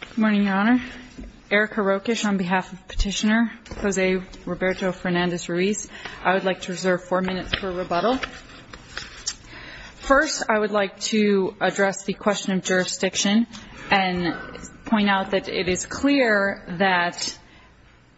Good morning, Your Honor. Erica Rokish on behalf of Petitioner Jose Roberto Fernandez-Ruiz. I would like to reserve four minutes for rebuttal. First, I would like to address the question of jurisdiction and point out that it is clear that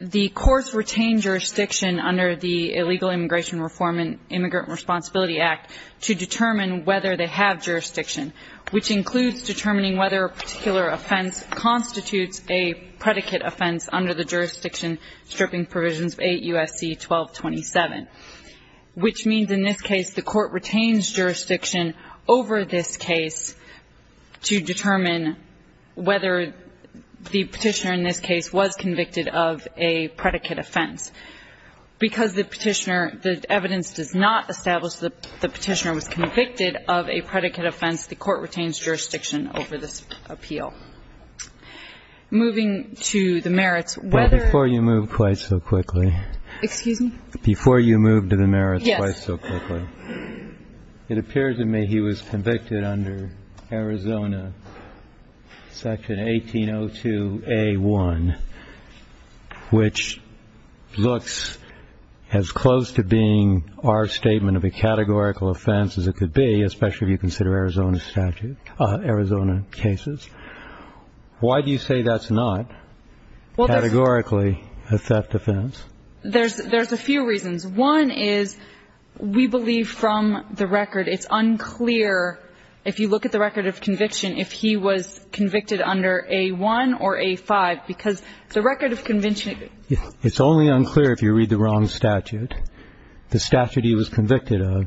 the courts retain jurisdiction under the Illegal Immigration Reform and Immigrant Responsibility Act to determine whether they have jurisdiction, which includes determining whether a particular offense constitutes a predicate offense under the jurisdiction stripping provisions of 8 U.S.C. 1227, which means in this case the court retains jurisdiction over this case to determine whether the Petitioner in this case was convicted of a predicate offense. Because the Petitioner — the evidence does not establish that the Petitioner was convicted of a predicate offense, the court retains jurisdiction over this appeal. Moving to the merits, whether — DR. SCHUNEMANN Before you move quite so quickly. ERICA ROKISH Excuse me? DR. SCHUNEMANN Before you move to the merits quite so quickly. ERICA ROKISH Yes. DR. SCHUNEMANN It appears to me he was convicted under Arizona section 1802A1, which looks as close to being our statement of a categorical offense as it could be, especially if you consider Arizona statute — Arizona cases. Why do you say that's not categorically a theft offense? ERICA ROKISH There's a few reasons. One is we believe from the record it's unclear, if you look at the record of conviction, if he was convicted under A1 or A5. Because the record of conviction — DR. SCHUNEMANN It's only unclear if you read the wrong statute. The statute he was convicted of,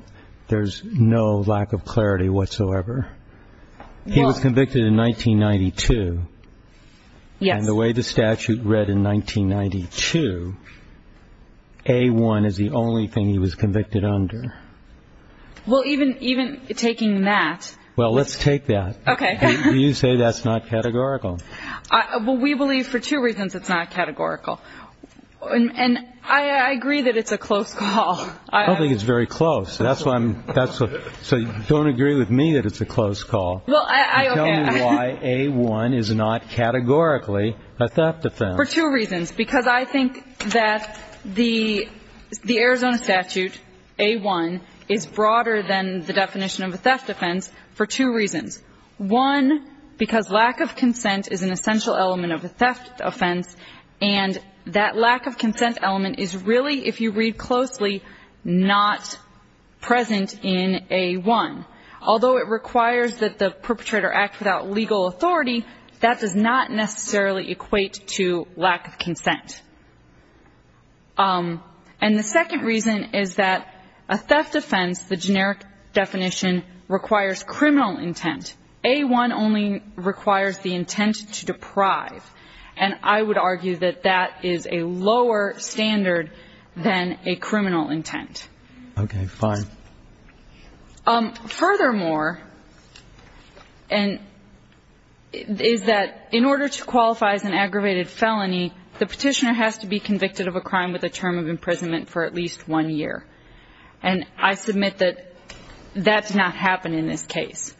there's no lack of clarity whatsoever. ERICA ROKISH Well — DR. SCHUNEMANN He was convicted in 1992. ERICA ROKISH Yes. DR. SCHUNEMANN By the way the statute read in 1992, A1 is the only thing he was convicted under. ERICA ROKISH Well, even taking that — DR. SCHUNEMANN Well, let's take that. ERICA ROKISH Okay. DR. SCHUNEMANN You say that's not categorical. ERICA ROKISH Well, we believe for two reasons it's not categorical. And I agree that it's a close call. I don't think it's very close. So don't agree with me that it's a close call. Tell me why A1 is not categorically a theft offense. ERICA ROKISH For two reasons. Because I think that the Arizona statute, A1, is broader than the definition of a theft offense for two reasons. One, because lack of consent is an essential element of a theft offense. And that lack of consent element is really, if you read closely, not present in A1. Although it requires that the perpetrator act without legal authority, that does not necessarily equate to lack of consent. And the second reason is that a theft offense, the generic definition, requires criminal intent. A1 only requires the intent to deprive. And I would argue that that is a lower standard than a criminal intent. DR. SCHUNEMANN Okay. Fine. ERICA ROKISH Furthermore, is that in order to qualify as an aggravated felony, the Petitioner has to be convicted of a crime with a term of imprisonment for at least one year. And I submit that that did not happen in this case.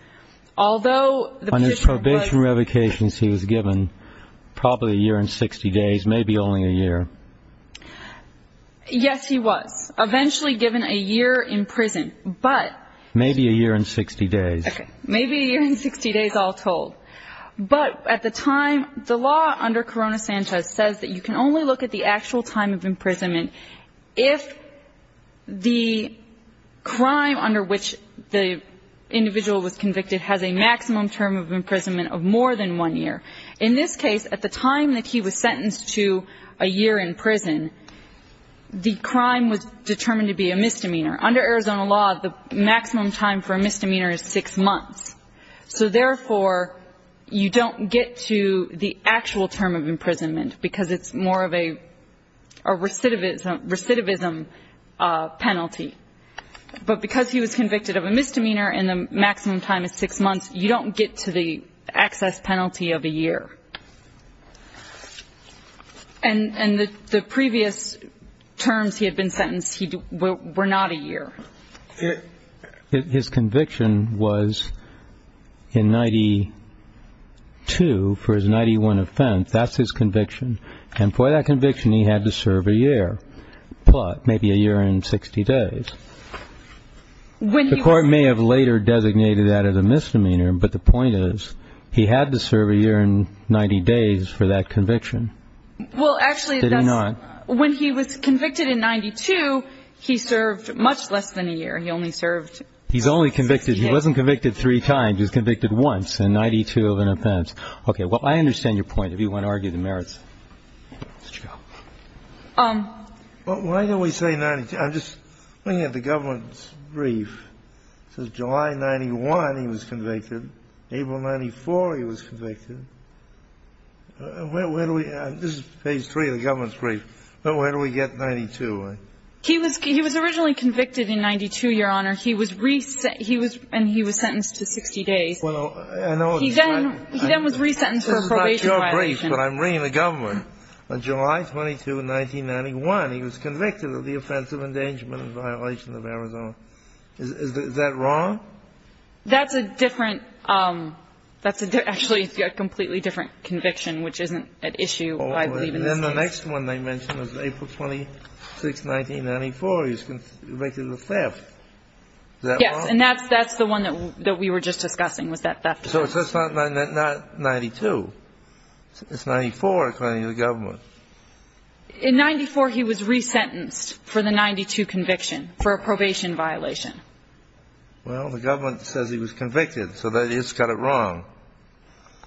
Although the Petitioner was... DR. SCHUNEMANN On his probation revocations, he was given probably a year and 60 days, maybe only a year. ERICA ROKISH Yes, he was. Eventually given a year in prison. But... DR. SCHUNEMANN Maybe a year and 60 days. ERICA ROKISH Maybe a year and 60 days, all told. But at the time, the law under Corona Santa says that you can only look at the actual time of imprisonment if the crime under which the individual was convicted has a maximum term of imprisonment of more than one year. In this case, at the time that he was sentenced to a year in prison, the crime was determined to be a misdemeanor. Under Arizona law, the maximum time for a misdemeanor is six months. So therefore, you don't get to the actual term of imprisonment because it's more of a recidivism penalty. But because he was convicted of a misdemeanor and the maximum time is six months, you don't get to the access penalty of a year. And the previous terms he had been sentenced were not a year. DR. SCHUNEMANN His conviction was in 92 for his 91 offense. That's his conviction. And for that conviction, he had to serve a year, maybe a year and 60 days. The court may have later designated that as a misdemeanor, but the point is he had to serve a year and 90 days for that conviction. Did he not? Well, actually, when he was convicted in 92, he served much less than a year. He only served 60 days. He's only convicted. He wasn't convicted three times. He was convicted once in 92 of an offense. Okay. Well, I understand your point if you want to argue the merits. Mr. Chico. Well, why do we say 92? I'm just looking at the government's brief. It says July 91 he was convicted. April 94 he was convicted. Where do we – this is page 3 of the government's brief. Where do we get 92? He was originally convicted in 92, Your Honor. He was – and he was sentenced to 60 days. He then was resentenced for a probation violation. This is not your brief, but I'm reading the government. On July 22, 1991, he was convicted of the offense of endangerment and violation of Arizona. Is that wrong? That's a different – that's a – actually, a completely different conviction, which isn't at issue, I believe, in this case. Oh, and then the next one they mentioned was April 26, 1994. He was convicted of theft. Is that wrong? Yes, and that's the one that we were just discussing, was that theft. So it's not 92. It's 94, according to the government. In 94, he was resentenced for the 92 conviction for a probation violation. Well, the government says he was convicted, so that has got it wrong.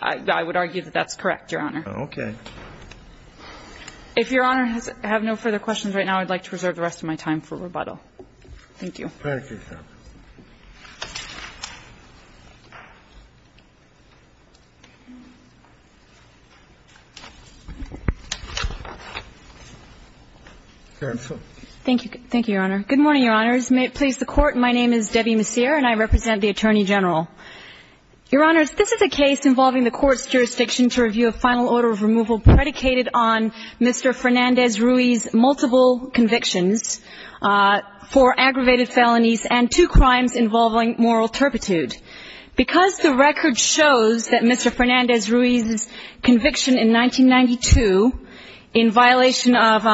I would argue that that's correct, Your Honor. Okay. If Your Honor has – have no further questions right now, I'd like to reserve the rest of my time for rebuttal. Thank you. Thank you, Your Honor. Thank you. Thank you, Your Honor. Good morning, Your Honors. May it please the Court. My name is Debbie Messier, and I represent the Attorney General. Your Honors, this is a case involving the Court's jurisdiction to review a final order of removal predicated on Mr. Fernandez-Ruiz's multiple convictions for aggravated moral turpitude. Because the record shows that Mr. Fernandez-Ruiz's conviction in 1992 in violation of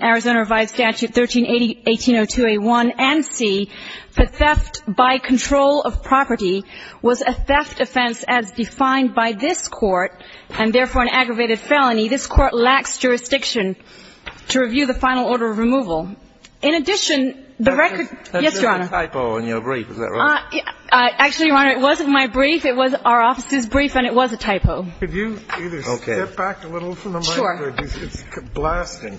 Arizona Revived Statute 1380 – 1802A1 and C, the theft by control of property was a theft offense as defined by this Court, and therefore an aggravated felony, this Court lacks jurisdiction to review the final order of removal. In addition, the record – yes, Your Honor. There was a typo in your brief. Is that right? Actually, Your Honor, it wasn't my brief. It was our office's brief, and it was a typo. Could you either step back a little from the mic? Sure. It's blasting.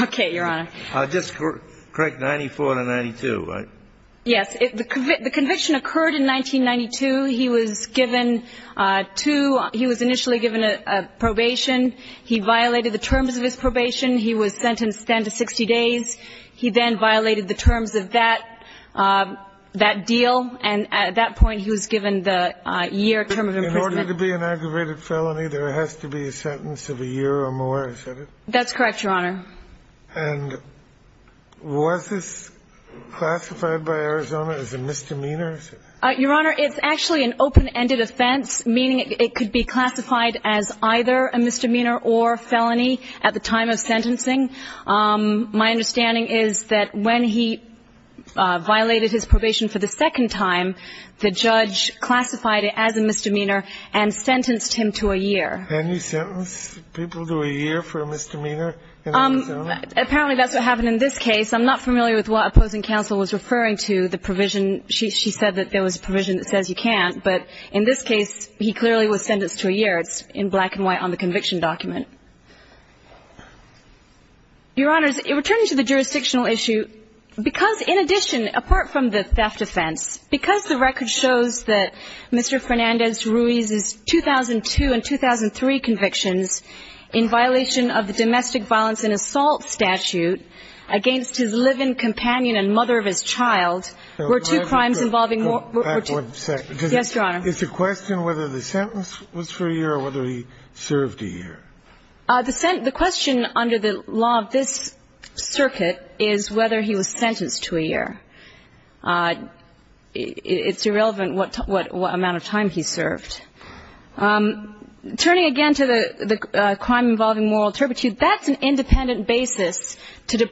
Okay, Your Honor. Just correct 94 to 92, right? Yes. The conviction occurred in 1992. He was given two – he was initially given a probation. He violated the terms of his probation. He was sentenced then to 60 days. He then violated the terms of that – that deal, and at that point he was given the year term of imprisonment. In order to be an aggravated felony, there has to be a sentence of a year or more, is that it? That's correct, Your Honor. And was this classified by Arizona as a misdemeanor? Your Honor, it's actually an open-ended offense, meaning it could be classified as either a misdemeanor or felony at the time of sentencing. My understanding is that when he violated his probation for the second time, the judge classified it as a misdemeanor and sentenced him to a year. Can you sentence people to a year for a misdemeanor in Arizona? Apparently that's what happened in this case. I'm not familiar with what opposing counsel was referring to, the provision. She said that there was a provision that says you can't, but in this case, he clearly was sentenced to a year. Your Honor, can you repeat what you said in relation to the circumstantial issue? Because in addition, apart from the theft offense, because the record shows that Mr. Fernandez Ruiz's 2002 and 2003 convictions in violation of the domestic violence and assault statute against his living companion and mother of his child were two crimes involving more – Yes, Your Honor. Is the question whether the sentence was for a year or whether he served a year? The question under the law of this circuit is whether he was sentenced to a year. It's irrelevant what amount of time he served. Turning again to the crime involving moral turpitude, that's an independent basis to In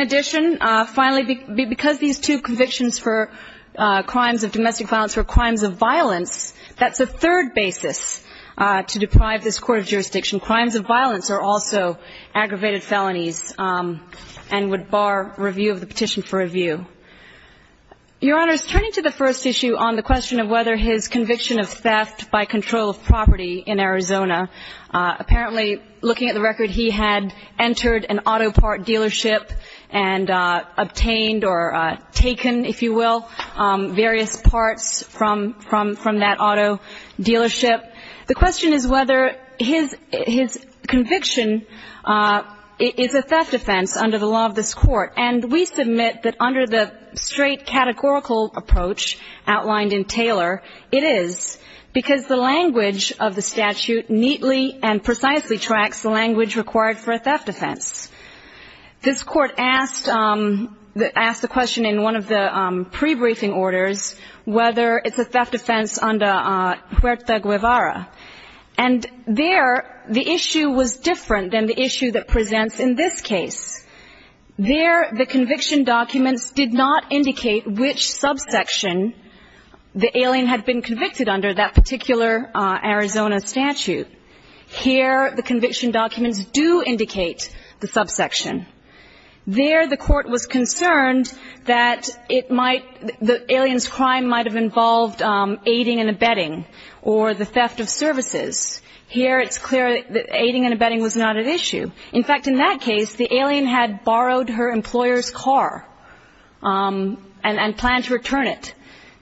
addition, finally, because these two convictions for crimes of domestic violence were crimes of violence, that's a third basis to deprive this court of jurisdiction. Crimes of violence are also aggravated felonies and would bar review of the petition for review. Your Honor, turning to the first issue on the question of whether his conviction of theft by control of property in Arizona, apparently, looking at the record, that he had entered an auto part dealership and obtained or taken, if you will, various parts from that auto dealership. The question is whether his conviction is a theft offense under the law of this court. And we submit that under the straight categorical approach outlined in Taylor, it is because the language of the statute neatly and precisely tracks the language required for a theft offense. This court asked the question in one of the pre-briefing orders whether it's a theft offense under Huerta Guevara. And there, the issue was different than the issue that presents in this case. There, the conviction documents did not indicate which subsection the alien had been convicted under, that particular Arizona statute. Here, the conviction documents do indicate the subsection. There, the court was concerned that it might the alien's crime might have involved aiding and abetting or the theft of services. Here, it's clear that aiding and abetting was not at issue. In fact, in that case, the alien had borrowed her employer's car and planned to return it.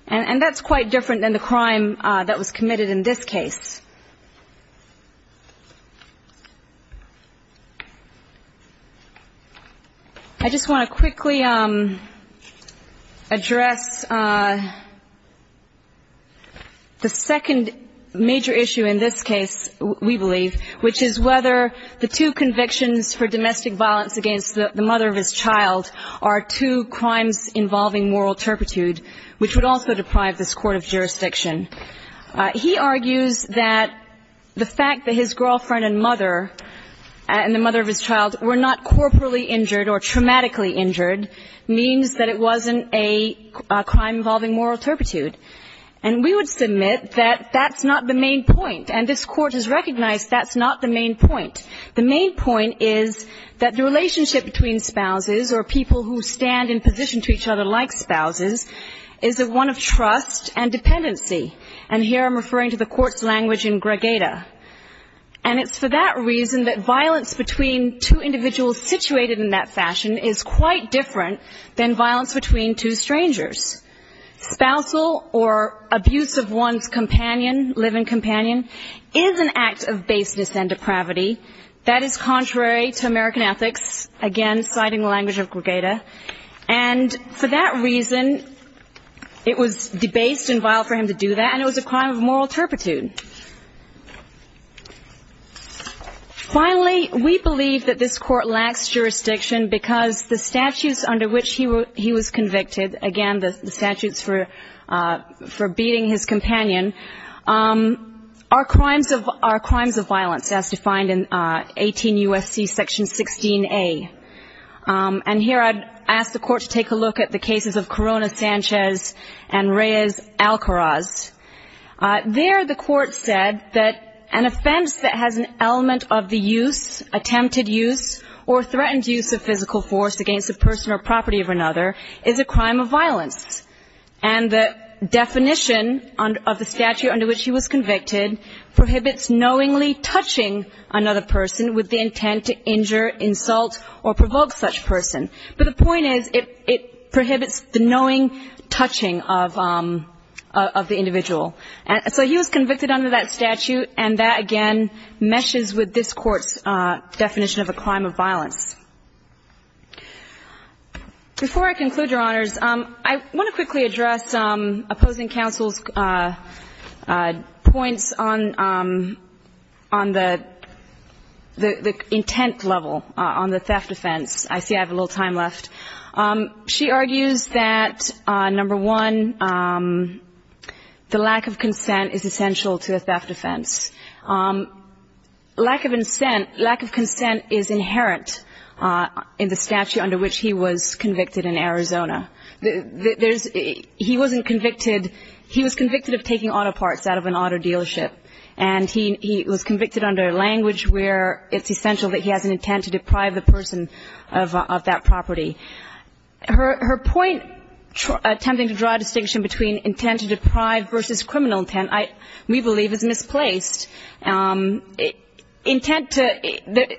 And that's quite different than the crime that was committed in this case. I just want to quickly address the second major issue in this case, we believe, which is whether the two convictions for domestic violence against the mother of his child are two crimes involving moral turpitude, which would also deprive this court of jurisdiction. He argues that the fact that his girlfriend and mother and the mother of his child were not corporally injured or traumatically injured means that it wasn't a crime involving moral turpitude. And we would submit that that's not the main point. And this Court has recognized that's not the main point. The main point is that the relationship between spouses or people who stand in position to each other like spouses is one of trust and dependency. And here I'm referring to the Court's language in Gregata. And it's for that reason that violence between two individuals situated in that fashion is quite different than violence between two strangers. Spousal or abuse of one's companion, living companion, is an act of baseness and depravity. That is contrary to American ethics, again, citing the language of Gregata. And for that reason, it was debased and vile for him to do that, and it was a crime of moral turpitude. Finally, we believe that this Court lacks jurisdiction because the statutes under which he was convicted, again, the statutes for beating his companion, are crimes of violence as defined in 18 U.S.C. Section 16A. And here I'd ask the Court to take a look at the cases of Corona Sanchez and Reyes Alcaraz. There the Court said that an offense that has an element of the use, attempted use, or threatened use of physical force against a person or property of another is a crime of violence. And the definition of the statute under which he was convicted prohibits knowingly touching another person with the intent to injure, insult, or provoke such person. But the point is, it prohibits the knowing touching of the individual. So he was convicted under that statute, and that, again, meshes with this Court's definition of a crime of violence. Before I conclude, Your Honors, I want to quickly address opposing counsel's points on the intent level, on the theft offense. I see I have a little time left. She argues that, number one, the lack of consent is essential to a theft offense. Lack of consent is inherent in the statute under which he was convicted in Arizona. There's he wasn't convicted he was convicted of taking auto parts out of an auto dealership, and he was convicted under language where it's essential that he has an intent to deprive the person of that property. Her point, attempting to draw a distinction between intent to deprive versus criminal intent, we believe is misplaced. Intent to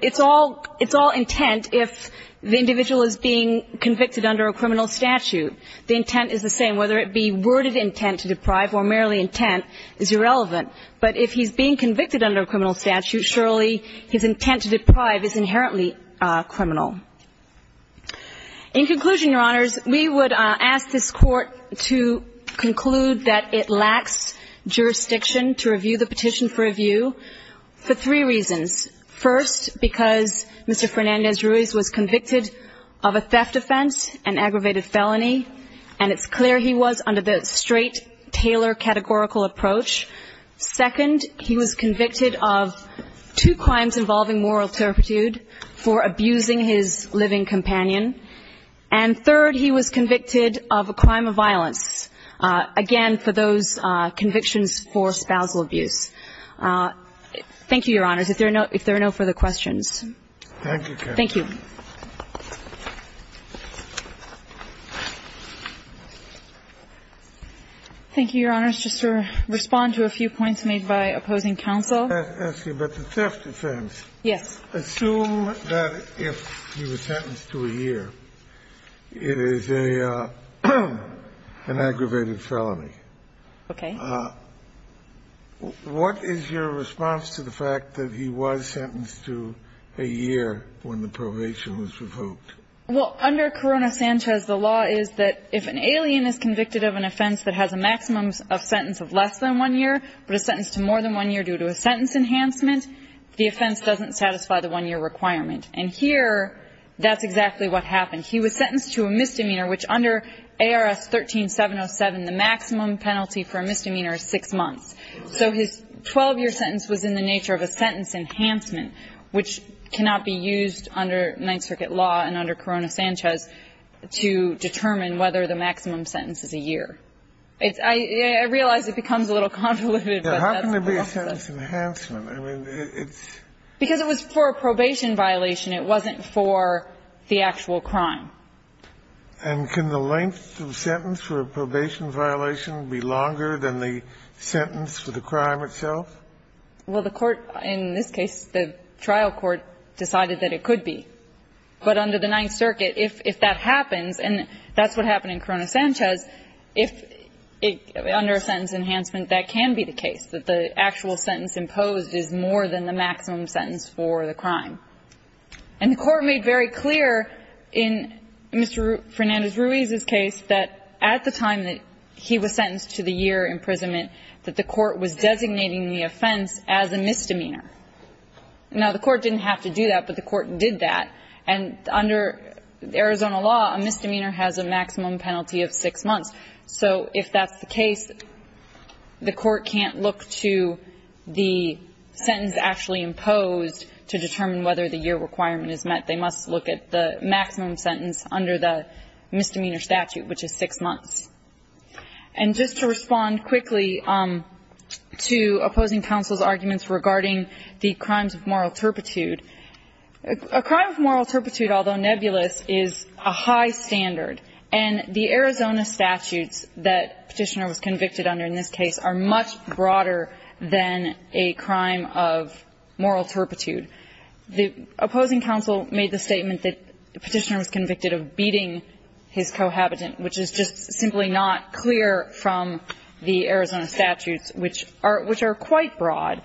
it's all intent if the individual is being convicted under a criminal statute. The intent is the same, whether it be worded intent to deprive or merely intent is irrelevant. But if he's being convicted under a criminal statute, surely his intent to deprive is inherently criminal. In conclusion, Your Honors, we would ask this Court to conclude that it lacks jurisdiction to review the petition for review for three reasons. First, because Mr. Fernandez-Ruiz was convicted of a theft offense, an aggravated felony, and it's clear he was under the straight Taylor categorical approach. Second, he was convicted of two crimes involving moral turpitude for abusing his living companion. And third, he was convicted of a crime of violence, again, for those convictions for spousal abuse. Thank you, Your Honors. If there are no further questions. Thank you. Thank you. Thank you, Your Honors. Just to respond to a few points made by opposing counsel. But the theft offense. Yes. Assume that if he was sentenced to a year, it is an aggravated felony. Okay. What is your response to the fact that he was sentenced to a year when the probation was revoked? Well, under Corona-Sanchez, the law is that if an alien is convicted of an offense that has a maximum of sentence of less than one year, but is sentenced to more than one year due to a sentence enhancement, the offense doesn't satisfy the one-year requirement. And here, that's exactly what happened. He was sentenced to a misdemeanor, which under ARS 13707, the maximum penalty for a misdemeanor is six months. So his 12-year sentence was in the nature of a sentence enhancement, which cannot be used under Ninth Circuit law and under Corona-Sanchez to determine whether the maximum sentence is a year. I realize it becomes a little convoluted, but that's what I'll say. How can there be a sentence enhancement? Because it was for a probation violation. It wasn't for the actual crime. And can the length of sentence for a probation violation be longer than the sentence for the crime itself? Well, the Court in this case, the trial court, decided that it could be. But under the Ninth Circuit, if that happens, and that's what happened in Corona-Sanchez, if under a sentence enhancement, that can be the case, that the actual sentence imposed is more than the maximum sentence for the crime. And the Court made very clear in Mr. Fernandez-Ruiz's case that at the time that he was sentenced to the year imprisonment that the Court was designating the offense as a misdemeanor. Now, the Court didn't have to do that, but the Court did that. And under Arizona law, a misdemeanor has a maximum penalty of six months. So if that's the case, the Court can't look to the sentence actually imposed to determine whether the year requirement is met. They must look at the maximum sentence under the misdemeanor statute, which is six months. And just to respond quickly to opposing counsel's arguments regarding the crimes of moral turpitude, a crime of moral turpitude, although nebulous, is a high standard. And the Arizona statutes that Petitioner was convicted under in this case are much broader than a crime of moral turpitude. The opposing counsel made the statement that Petitioner was convicted of beating his cohabitant, which is just simply not clear from the Arizona statutes, which are quite broad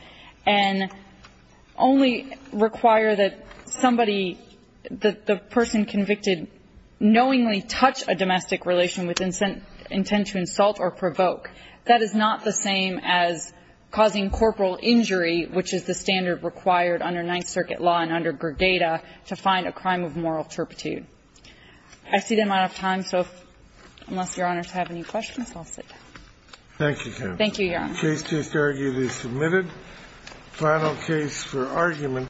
and only require that somebody, that the person convicted knowingly touch a domestic relation with intent to insult or provoke. That is not the same as causing corporal injury, which is the standard required under Ninth Circuit law and under Gregata to find a crime of moral turpitude. I see that I'm out of time, so unless Your Honors have any questions, I'll sit down. Thank you, counsel. Thank you, Your Honor. The case is submitted. Final case for argument.